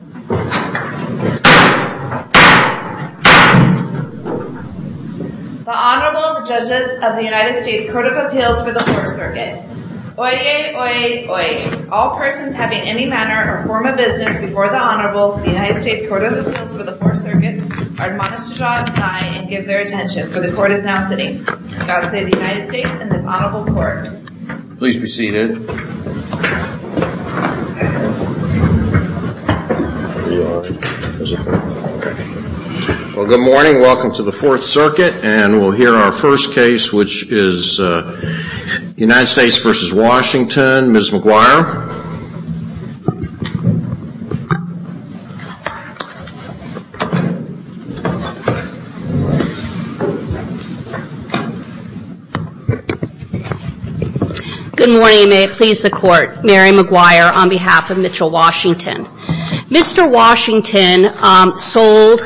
The Honorable Judges of the United States Court of Appeals for the 4th Circuit. Oyez, oyez, oyez. All persons having any manner or form of business before the Honorable of the United States Court of Appeals for the 4th Circuit are admonished to draw a tie and give their attention, for the Court is now sitting. God save the United States and this Honorable Court. Please be seated. Well, good morning. Welcome to the 4th Circuit, and we'll hear our first case, which is United States v. Ms. McGuire. Good morning, and may it please the Court. Mary McGuire on behalf of Mitchell Washington. Mr. Washington sold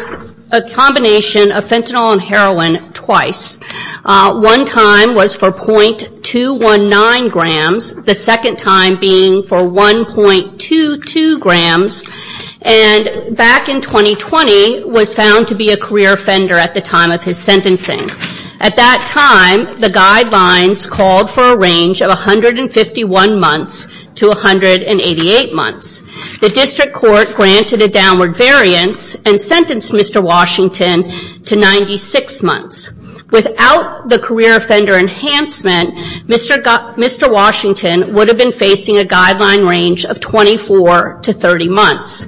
a combination of fentanyl and heroin twice. One time was for .219 grams, the second time being for 1.22 grams, and back in 2020 was found to be a career offender at the time of his sentencing. At that time, the guidelines called for a range of 151 months to 188 months. The district court granted a downward variance and sentenced Mr. Washington to 96 months. Without the career offender enhancement, Mr. Washington would have been facing a guideline range of 24 to 30 months.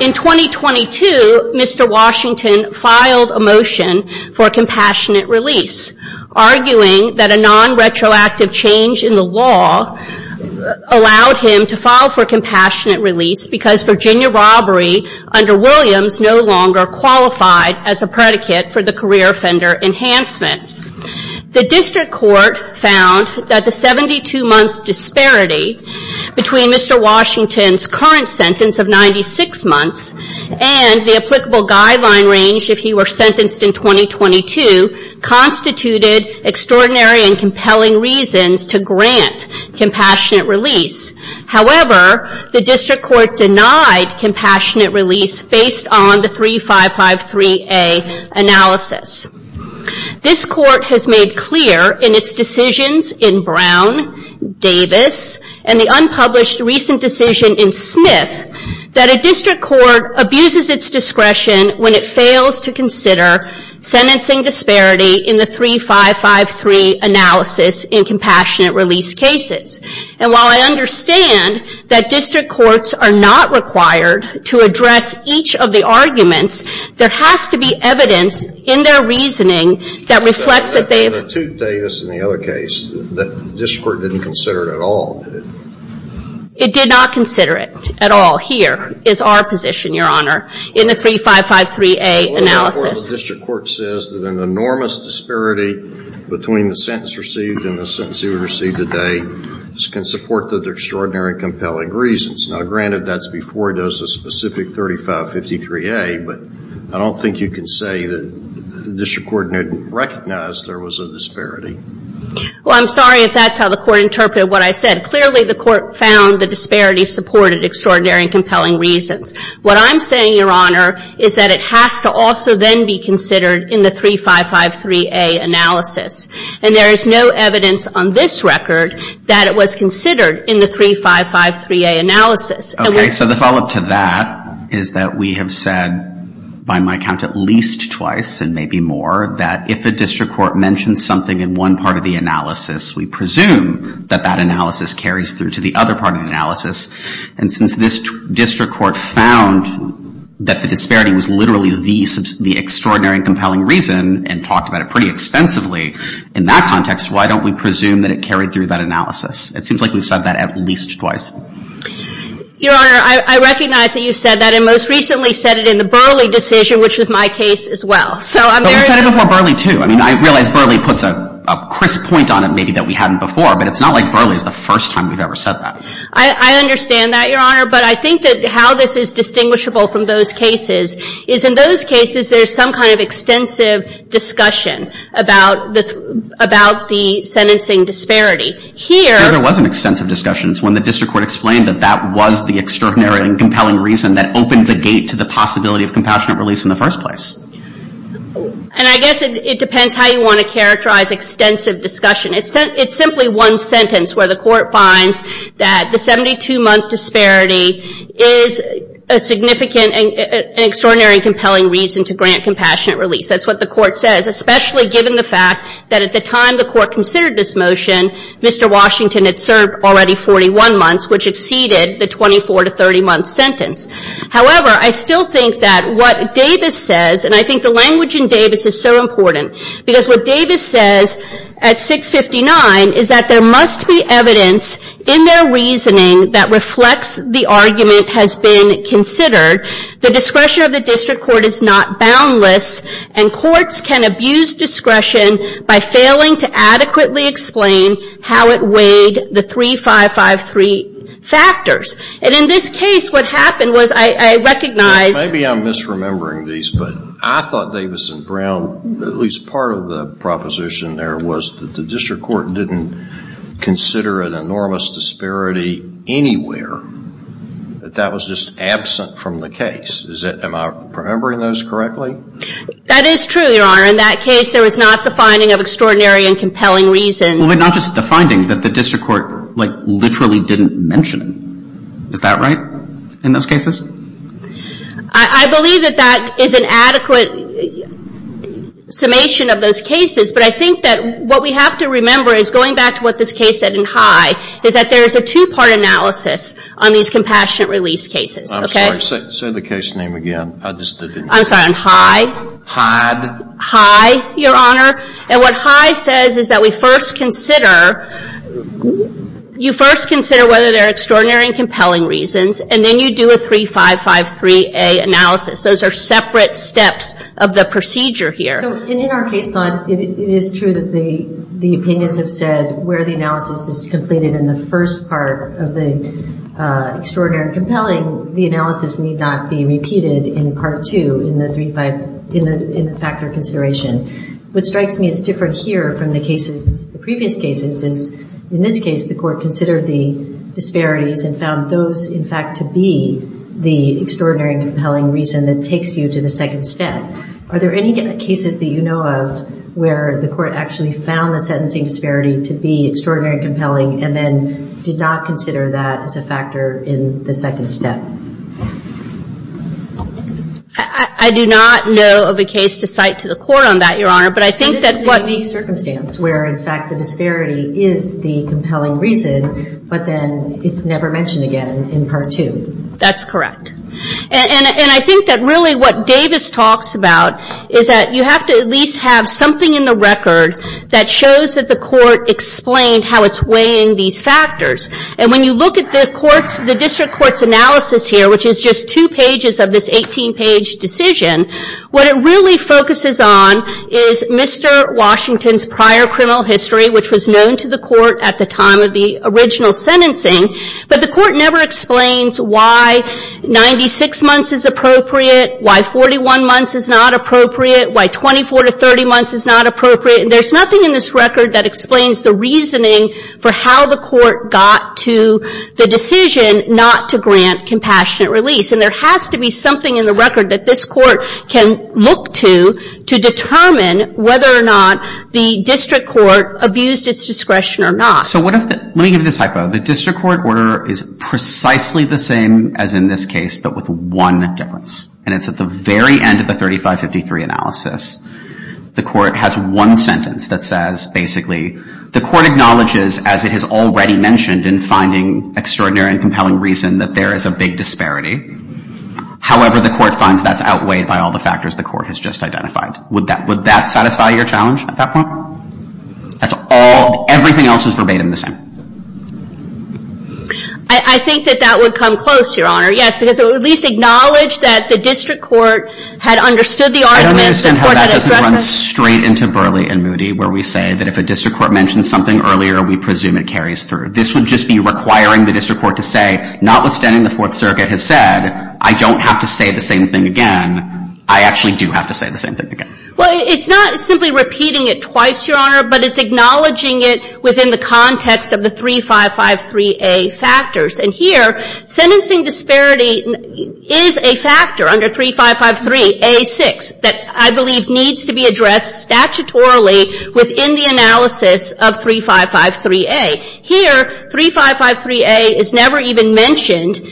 In 2022, Mr. Washington filed a motion for a compassionate release, arguing that a non-retroactive change in the law allowed him to file for a compassionate release because Virginia robbery under Williams no longer qualified as a predicate for the career offender enhancement. The district court found that the 72-month disparity between Mr. Washington's current sentence of 96 months and the applicable guideline range if he were sentenced in 2022 constituted extraordinary and compelling reasons to grant compassionate release. However, the district court denied compassionate release based on the 3553A analysis. This court has made clear in its decisions in Brown, Davis, and the unpublished recent decision in Smith that a district court abuses its discretion when it fails to consider sentencing disparity in the 3553A analysis in compassionate release cases. And while I understand that district courts are not required to address each of the arguments, there has to be evidence in their reasoning that reflects that they have... But in the Tute, Davis, and the other case, the district court didn't consider it at all, did it? It did not consider it at all. Here is our position, Your Honor, in the 3553A analysis. The district court says that an enormous disparity between the sentence received and the sentence he would receive today can support the extraordinary and compelling reasons. Now, granted, that's before he does the specific 3553A, but I don't think you can say that the district court didn't recognize there was a disparity. Well, I'm sorry if that's how the court interpreted what I said. Clearly, the court found the disparity supported extraordinary and compelling reasons. What I'm saying, Your Honor, is that it has to also then be considered in the 3553A analysis. And there is no evidence on this record that it was considered in the 3553A analysis. Okay. So the follow-up to that is that we have said by my count at least twice and maybe more that if a district court mentions something in one part of the analysis, we presume that that analysis carries through to the other part of the analysis. And since this district court found that the disparity was literally the extraordinary and compelling reason and talked about it pretty extensively in that context, why don't we presume that it carried through that analysis? It seems like we've said that at least twice. Your Honor, I recognize that you've said that and most recently said it in the Burley decision, which was my case as well. But we've said it before Burley, too. I mean, I realize Burley puts a crisp point on it maybe that we haven't before, but it's not like Burley is the first time we've ever said that. I understand that, Your Honor. But I think that how this is distinguishable from those cases is in those cases there's some kind of extensive discussion about the sentencing disparity. Here — No, there wasn't extensive discussion. It's when the district court explained that that was the extraordinary and compelling reason that opened the gate to the possibility of compassionate release in the first place. And I guess it depends how you want to characterize extensive discussion. It's simply one sentence where the court finds that the 72-month disparity is a significant and extraordinary and compelling reason to grant compassionate release. That's what the court says, especially given the fact that at the time the court considered this motion, Mr. Washington had served already 41 months, which exceeded the 24- to 30-month sentence. However, I still think that what Davis says, and I think the language in Davis is so important, because what Davis says at 659 is that there must be evidence in their reasoning that reflects the argument has been considered. The discretion of the district court is not boundless, and courts can abuse discretion by failing to adequately explain how it weighed the 3553 factors. And in this case, what happened was I recognized — Maybe I'm misremembering these, but I thought Davis and Brown, at least part of the proposition there, was that the district court didn't consider an enormous disparity anywhere, that that was just absent from the case. Am I remembering those correctly? That is true, Your Honor. In that case, there was not the finding of extraordinary and compelling reasons. Well, not just the finding, that the district court, like, literally didn't mention it. Is that right in those cases? I believe that that is an adequate summation of those cases, but I think that what we have to remember is, going back to what this case said in High, is that there is a two-part analysis on these compassionate release cases. I'm sorry. Say the case name again. I'm sorry. On High. Hyde. High, Your Honor. And what High says is that we first consider — you first consider whether there are extraordinary and compelling reasons, and then you do a 3553A analysis. Those are separate steps of the procedure here. So in our case, it is true that the opinions have said where the analysis is completed in the first part of the extraordinary and compelling, the analysis need not be repeated in part two in the factor consideration. What strikes me as different here from the cases, the previous cases, in this case the court considered the disparities and found those, in fact, to be the extraordinary and compelling reason that takes you to the second step. Are there any cases that you know of where the court actually found the sentencing disparity to be extraordinary and compelling and then did not consider that as a factor in the second step? I do not know of a case to cite to the court on that, Your Honor, but I think that what — is the compelling reason, but then it's never mentioned again in part two. That's correct. And I think that really what Davis talks about is that you have to at least have something in the record that shows that the court explained how it's weighing these factors. And when you look at the court's — the district court's analysis here, which is just two pages of this 18-page decision, what it really focuses on is Mr. Washington's prior criminal history, which was known to the court at the time of the original sentencing, but the court never explains why 96 months is appropriate, why 41 months is not appropriate, why 24 to 30 months is not appropriate. There's nothing in this record that explains the reasoning for how the court got to the decision not to grant compassionate release. And there has to be something in the record that this court can look to to determine whether or not the district court abused its discretion or not. So what if — let me give you this hypo. The district court order is precisely the same as in this case, but with one difference. And it's at the very end of the 3553 analysis. The court has one sentence that says, basically, the court acknowledges, as it has already mentioned, in finding extraordinary and compelling reason that there is a big disparity. However, the court finds that's outweighed by all the factors the court has just identified. Would that satisfy your challenge at that point? That's all — everything else is verbatim the same. I think that that would come close, Your Honor, yes, because it would at least acknowledge that the district court had understood the argument. I don't understand how that doesn't run straight into Burley and Moody, where we say that if a district court mentions something earlier, we presume it carries through. This would just be requiring the district court to say, notwithstanding the Fourth Circuit has said, I don't have to say the same thing again, I actually do have to say the same thing again. Well, it's not simply repeating it twice, Your Honor, but it's acknowledging it within the context of the 3553A factors. And here, sentencing disparity is a factor under 3553A6 that I believe needs to be addressed statutorily within the analysis of 3553A. Here, 3553A is never even mentioned —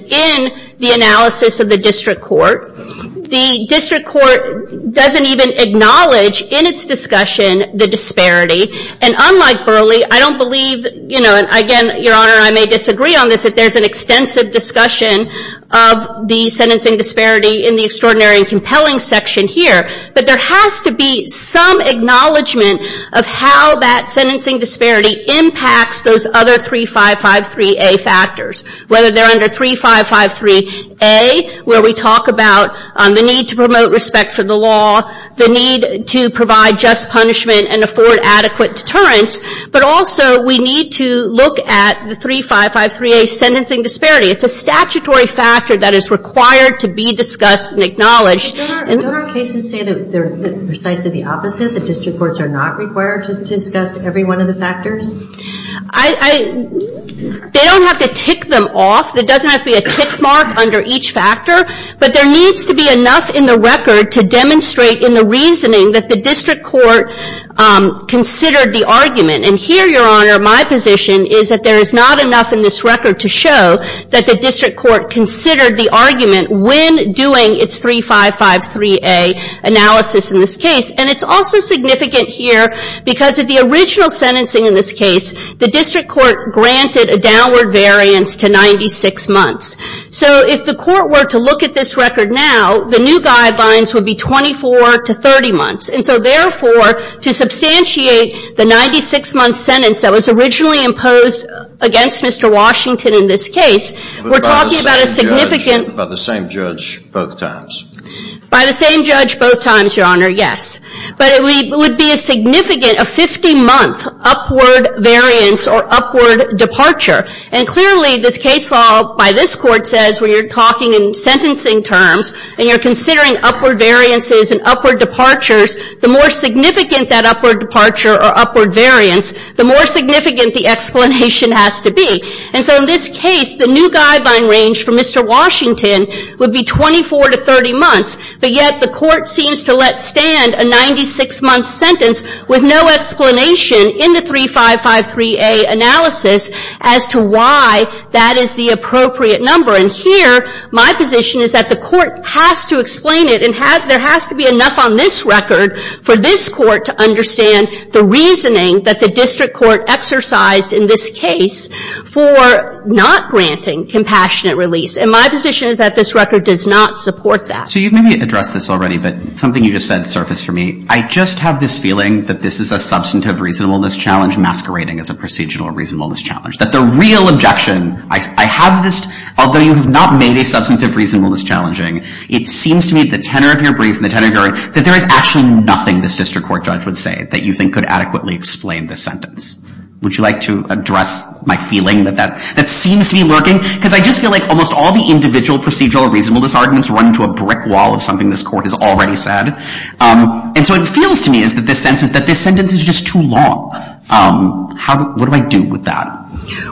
in the analysis of the district court. The district court doesn't even acknowledge in its discussion the disparity. And unlike Burley, I don't believe — you know, again, Your Honor, I may disagree on this, that there's an extensive discussion of the sentencing disparity in the extraordinary and compelling section here. But there has to be some acknowledgment of how that sentencing disparity impacts those other 3553A factors, whether they're under 3553A, where we talk about the need to promote respect for the law, the need to provide just punishment and afford adequate deterrence. But also, we need to look at the 3553A sentencing disparity. It's a statutory factor that is required to be discussed and acknowledged. But don't our cases say that they're precisely the opposite, that district courts are not required to discuss every one of the factors? I — they don't have to tick them off. There doesn't have to be a tick mark under each factor. But there needs to be enough in the record to demonstrate in the reasoning that the district court considered the argument. And here, Your Honor, my position is that there is not enough in this record to show that the district court considered the argument when doing its 3553A analysis in this case. And it's also significant here because of the original sentencing in this case, the district court granted a downward variance to 96 months. So if the court were to look at this record now, the new guidelines would be 24 to 30 months. And so therefore, to substantiate the 96-month sentence that was originally imposed against Mr. Washington in this case, we're talking about a significant — But by the same judge both times? By the same judge both times, Your Honor, yes. But it would be a significant — a 50-month upward variance or upward departure. And clearly, this case law by this Court says when you're talking in sentencing terms and you're considering upward variances and upward departures, the more significant that upward departure or upward variance, the more significant the explanation has to be. And so in this case, the new guideline range for Mr. Washington would be 24 to 30 months. But yet the court seems to let stand a 96-month sentence with no explanation in the 3553A analysis as to why that is the appropriate number. And here, my position is that the court has to explain it and there has to be enough on this record for this court to understand the reasoning that the district court exercised in this case for not granting compassionate release. And my position is that this record does not support that. So you've maybe addressed this already, but something you just said surfaced for me. I just have this feeling that this is a substantive reasonableness challenge masquerading as a procedural reasonableness challenge, that the real objection — I have this — although you have not made a substantive reasonableness challenging, it seems to me at the tenor of your brief and the tenor of your — that there is actually nothing this district court judge would say that you think could adequately explain this sentence. Would you like to address my feeling that that seems to be lurking? Because I just feel like almost all the individual procedural reasonableness arguments run into a brick wall of something this court has already said. And so it feels to me that this sentence is just too long. What do I do with that?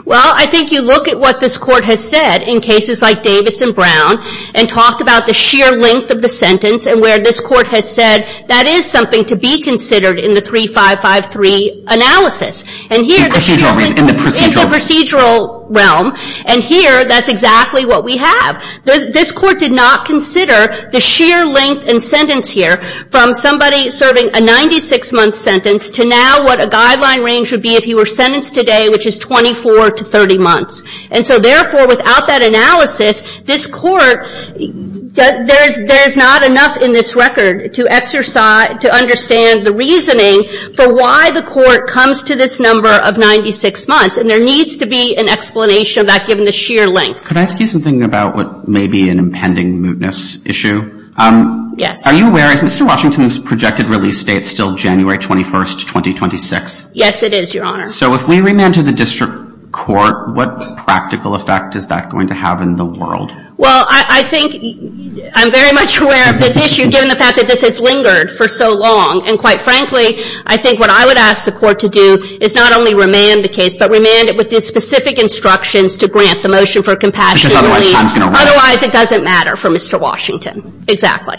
Well, I think you look at what this court has said in cases like Davis and Brown and talk about the sheer length of the sentence and where this court has said that is something to be considered in the 3553 analysis. And here — In the procedural — In the procedural realm. And here, that's exactly what we have. This court did not consider the sheer length and sentence here from somebody serving a 96-month sentence to now what a guideline range would be if he were sentenced today, which is 24 to 30 months. And so therefore, without that analysis, this court — there's not enough in this record to exercise — to understand the reasoning for why the court comes to this number of 96 months. And there needs to be an explanation of that given the sheer length. Could I ask you something about what may be an impending mootness issue? Yes. Are you aware, is Mr. Washington's projected release date still January 21st, 2026? Yes, it is, Your Honor. So if we remand to the district court, what practical effect is that going to have in the world? Well, I think I'm very much aware of this issue, given the fact that this has lingered for so long. And quite frankly, I think what I would ask the court to do is not only remand the case, but remand it with the specific instructions to grant the motion for a compassionate release. Because otherwise time's going to run out. Otherwise, it doesn't matter for Mr. Washington. Exactly.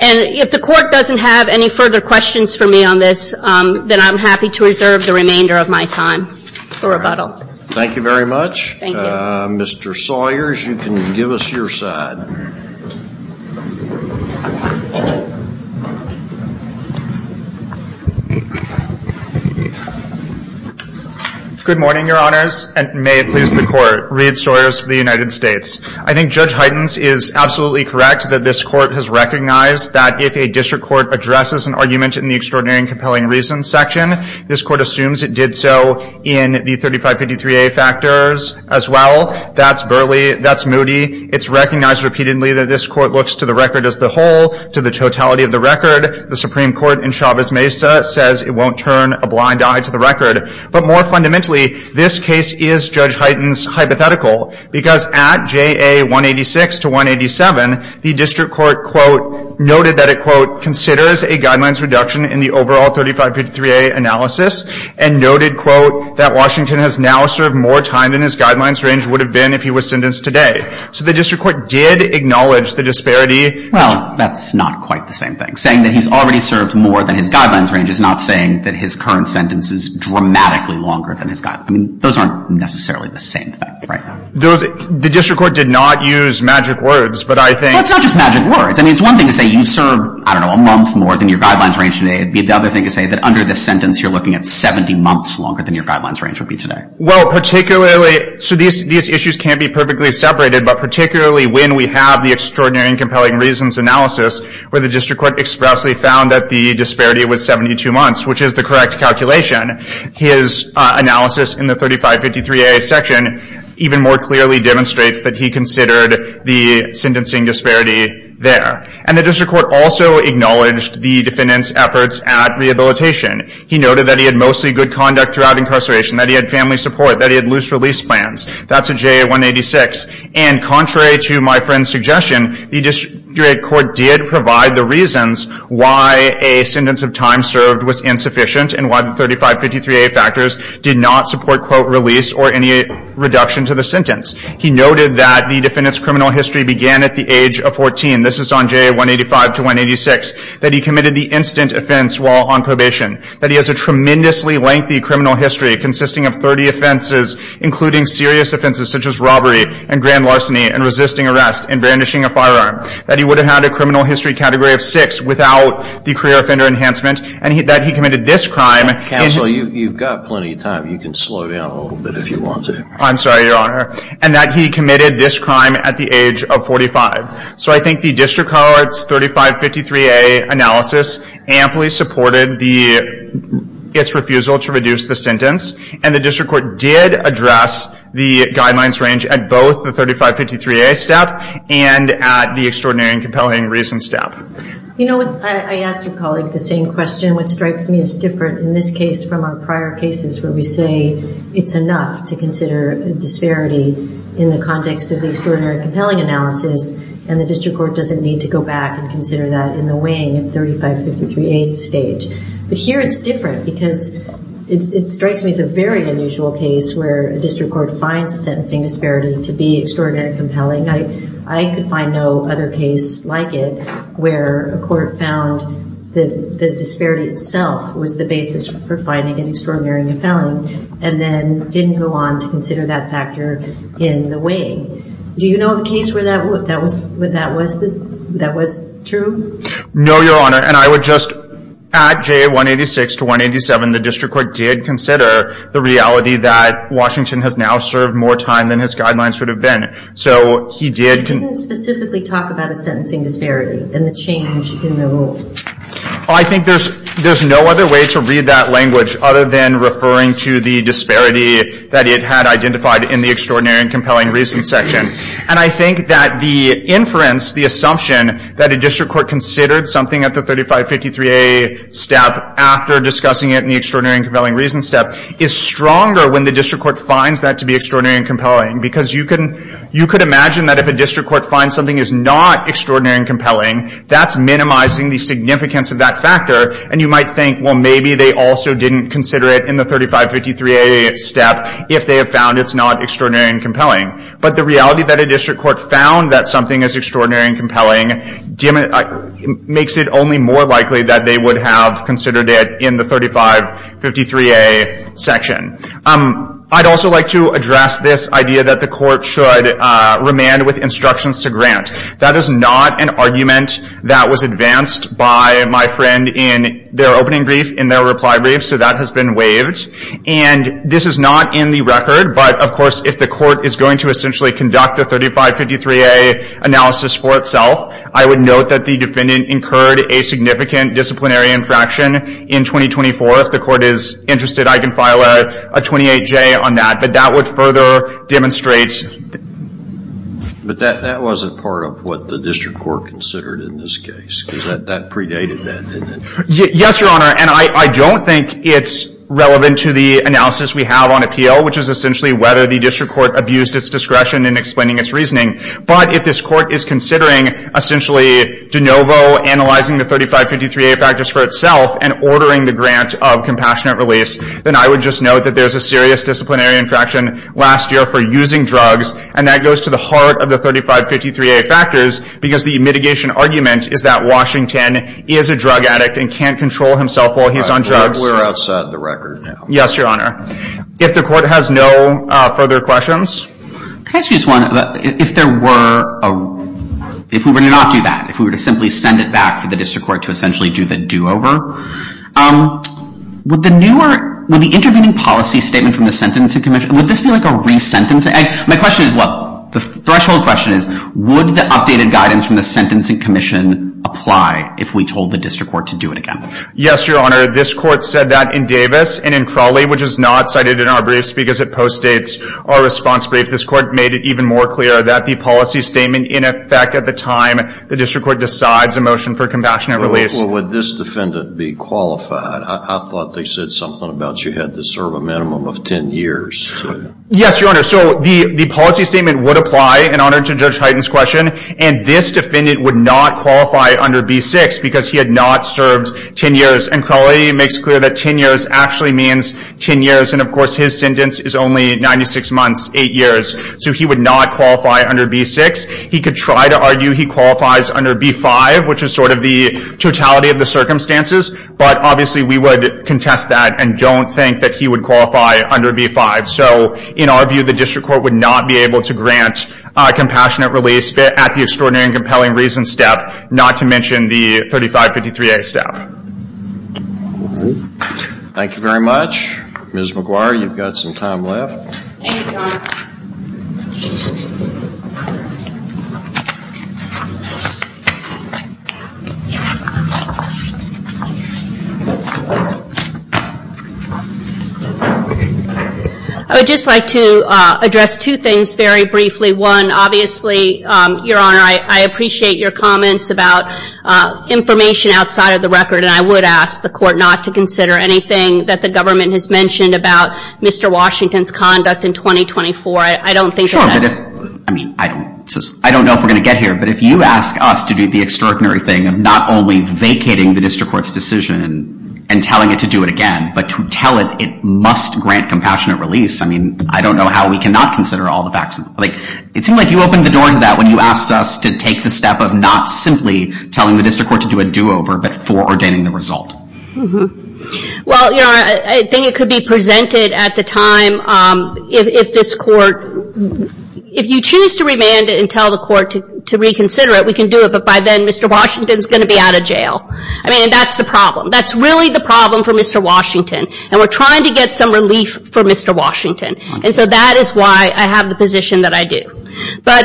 And if the court doesn't have any further questions for me on this, then I'm happy to reserve the remainder of my time for rebuttal. Thank you very much. Mr. Sawyers, you can give us your side. Good morning, Your Honors. And may it please the Court, Reed Sawyers for the United States. I think Judge Heitens is absolutely correct that this Court has recognized that if a district court addresses an argument in the Extraordinary and Compelling Reasons section, this Court assumes it did so in the 3553A factors as well. That's burly. That's moody. It's recognized repeatedly that this Court looks to the record as the whole, to the totality of the record. The Supreme Court in Chavez-Mesa says it won't turn a blind eye to the record. But more fundamentally, this case is, Judge Heitens, hypothetical. Because at JA 186 to 187, the district court, quote, noted that it, quote, considers a guidelines reduction in the overall 3553A analysis and noted, quote, that Washington has now served more time than his guidelines range would have been if he was sentenced today. So the district court did acknowledge the disparity. Well, that's not quite the same thing. Saying that he's already served more than his guidelines range is not saying that his current sentence is dramatically longer than his guidelines. I mean, those aren't necessarily the same thing right now. The district court did not use magic words, but I think Well, it's not just magic words. I mean, it's one thing to say you've served, I don't know, a month more than your guidelines range today. It would be the other thing to say that under this sentence, you're looking at 70 months longer than your guidelines range would be today. Well, particularly, so these issues can't be perfectly separated, but particularly when we have the extraordinary and compelling reasons analysis where the district court expressly found that the disparity was 72 months, which is the correct calculation. His analysis in the 3553A section even more clearly demonstrates that he considered the sentencing disparity there. And the district court also acknowledged the defendant's efforts at rehabilitation. He noted that he had mostly good conduct throughout incarceration, that he had family support, that he had loose release plans. That's a JA-186. And contrary to my friend's suggestion, the district court did provide the reasons why a sentence of time served was insufficient and why the 3553A factors did not support, quote, release or any reduction to the sentence. He noted that the defendant's criminal history began at the age of 14. This is on JA-185 to 186. That he committed the instant offense while on probation. That he has a tremendously lengthy criminal history consisting of 30 offenses, including serious offenses such as robbery and grand larceny and resisting arrest and brandishing a firearm. That he would have had a criminal history category of 6 without the career offender enhancement. And that he committed this crime. Counsel, you've got plenty of time. You can slow down a little bit if you want to. I'm sorry, Your Honor. And that he committed this crime at the age of 45. So I think the district court's 3553A analysis amply supported its refusal to reduce the sentence. And the district court did address the guidelines range at both the 3553A step and at the extraordinary and compelling reason step. You know, I asked your colleague the same question. What strikes me as different in this case from our prior cases where we say it's enough to consider disparity in the context of the extraordinary and compelling analysis and the district court doesn't need to go back and consider that in the weighing of 3553A stage. But here it's different because it strikes me as a very unusual case where a district court finds a sentencing disparity to be extraordinary and compelling. I could find no other case like it where a court found that the disparity itself was the basis for finding an extraordinary and compelling and then didn't go on to consider that factor in the weighing. Do you know of a case where that was true? No, Your Honor. And I would just add J186 to 187. The district court did consider the reality that Washington has now served more time than his guidelines would have been. So he did. He didn't specifically talk about a sentencing disparity and the change in the rule. Well, I think there's no other way to read that language other than referring to the disparity that it had identified in the extraordinary and compelling reason section. And I think that the inference, the assumption, that a district court considered something at the 3553A step after discussing it in the extraordinary and compelling reason step is stronger when the district court finds that to be extraordinary and compelling because you could imagine that if a district court finds something is not extraordinary and compelling, that's minimizing the significance of that factor. And you might think, well, maybe they also didn't consider it in the 3553A step if they have found it's not extraordinary and compelling. But the reality that a district court found that something is extraordinary and compelling makes it only more likely that they would have considered it in the 3553A section. I'd also like to address this idea that the court should remand with instructions to grant. That is not an argument that was advanced by my friend in their opening brief, in their reply brief. So that has been waived. And this is not in the record. But, of course, if the court is going to essentially conduct the 3553A analysis for itself, I would note that the defendant incurred a significant disciplinary infraction in 2024. If the court is interested, I can file a 28J on that. But that would further demonstrate... But that wasn't part of what the district court considered in this case. Because that predated that, didn't it? Yes, Your Honor. And I don't think it's relevant to the analysis we have on appeal, which is essentially whether the district court abused its discretion in explaining its reasoning. But if this court is considering, essentially, de novo analyzing the 3553A factors for itself and ordering the grant of compassionate release, then I would just note that there's a serious disciplinary infraction last year for using drugs. And that goes to the heart of the 3553A factors because the mitigation argument is that Washington is a drug addict and can't control himself while he's on drugs. We're outside the record now. Yes, Your Honor. If the court has no further questions... Can I ask you this one? If there were... If we were to not do that, if we were to simply send it back to the district court to essentially do the do-over, would the intervening policy statement from the Sentencing Commission... Would this be like a re-sentencing? My question is what? The threshold question is, would the updated guidance from the Sentencing Commission apply if we told the district court to do it again? Yes, Your Honor. This court said that in Davis and in Crawley, which is not cited in our briefs because it postdates our response brief. This court made it even more clear that the policy statement, in effect, at the time the district court decides a motion for compassionate release... Well, would this defendant be qualified? I thought they said something about you had to serve a minimum of 10 years. Yes, Your Honor. So the policy statement would apply, in honor to Judge Hyten's question. And this defendant would not qualify under B6 because he had not served 10 years. And Crawley makes clear that 10 years actually means 10 years. And, of course, his sentence is only 96 months, 8 years. So he would not qualify under B6. He could try to argue he qualifies under B5, which is sort of the totality of the circumstances. But, obviously, we would contest that and don't think that he would qualify under B5. So, in our view, the district court would not be able to grant a compassionate release at the Extraordinary and Compelling Reasons step, not to mention the 3553A step. Thank you very much. Ms. McGuire, you've got some time left. Thank you, Your Honor. I would just like to address two things very briefly. One, obviously, Your Honor, I appreciate your comments about information outside of the record. And I would ask the Court not to consider anything that the government has mentioned about Mr. Washington's conduct in 2024. I don't think that... Sure, but if... I mean, I don't know if we're going to get here. But if you ask us to do the extraordinary thing of not only vacating the district court's decision, and telling it to do it again, but to tell it it must grant compassionate release, I mean, I don't know how we cannot consider all the facts. It seemed like you opened the door into that when you asked us to take the step of not simply telling the district court to do a do-over, but for ordaining the result. Well, Your Honor, I think it could be presented at the time if this court... If you choose to remand it and tell the court to reconsider it, we can do it, but by then, Mr. Washington's going to be out of jail. I mean, that's the problem. That's really the problem for Mr. Washington, and we're trying to get some relief for Mr. Washington. And so that is why I have the position that I do. But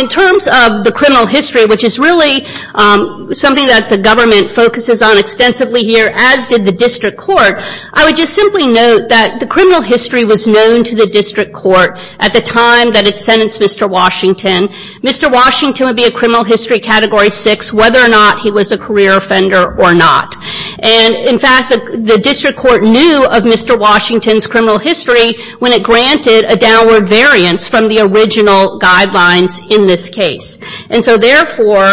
in terms of the criminal history, which is really something that the government focuses on extensively here, as did the district court, I would just simply note that the criminal history was known to the district court at the time that it sentenced Mr. Washington. Mr. Washington would be a criminal history Category 6 whether or not he was a career offender or not. And, in fact, the district court knew of Mr. Washington's criminal history when it granted a downward variance from the original guidelines in this case. And so, therefore,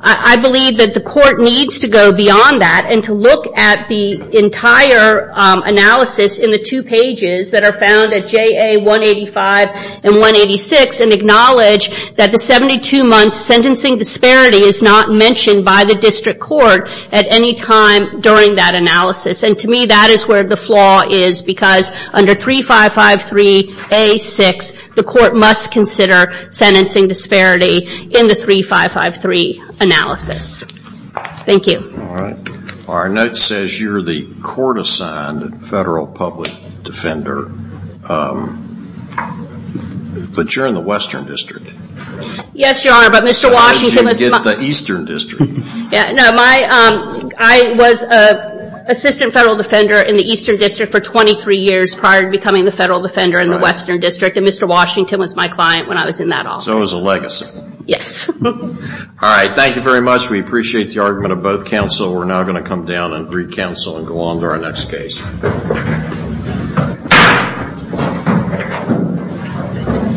I believe that the court needs to go beyond that and to look at the entire analysis in the two pages that are found at JA 185 and 186 and acknowledge that the 72-month sentencing disparity is not mentioned by the district court at any time during that analysis. And, to me, that is where the flaw is because under 3553A6, the court must consider sentencing disparity in the 3553 analysis. Thank you. All right. Our note says you're the court-assigned federal public defender, but you're in the Western District. Yes, Your Honor, but Mr. Washington was... The Eastern District. No, I was an assistant federal defender in the Eastern District for 23 years prior to becoming the federal defender in the Western District, and Mr. Washington was my client when I was in that office. So it was a legacy. Yes. All right. Thank you very much. We appreciate the argument of both counsel. We're now going to come down and recounsel and go on to our next case. Thank you.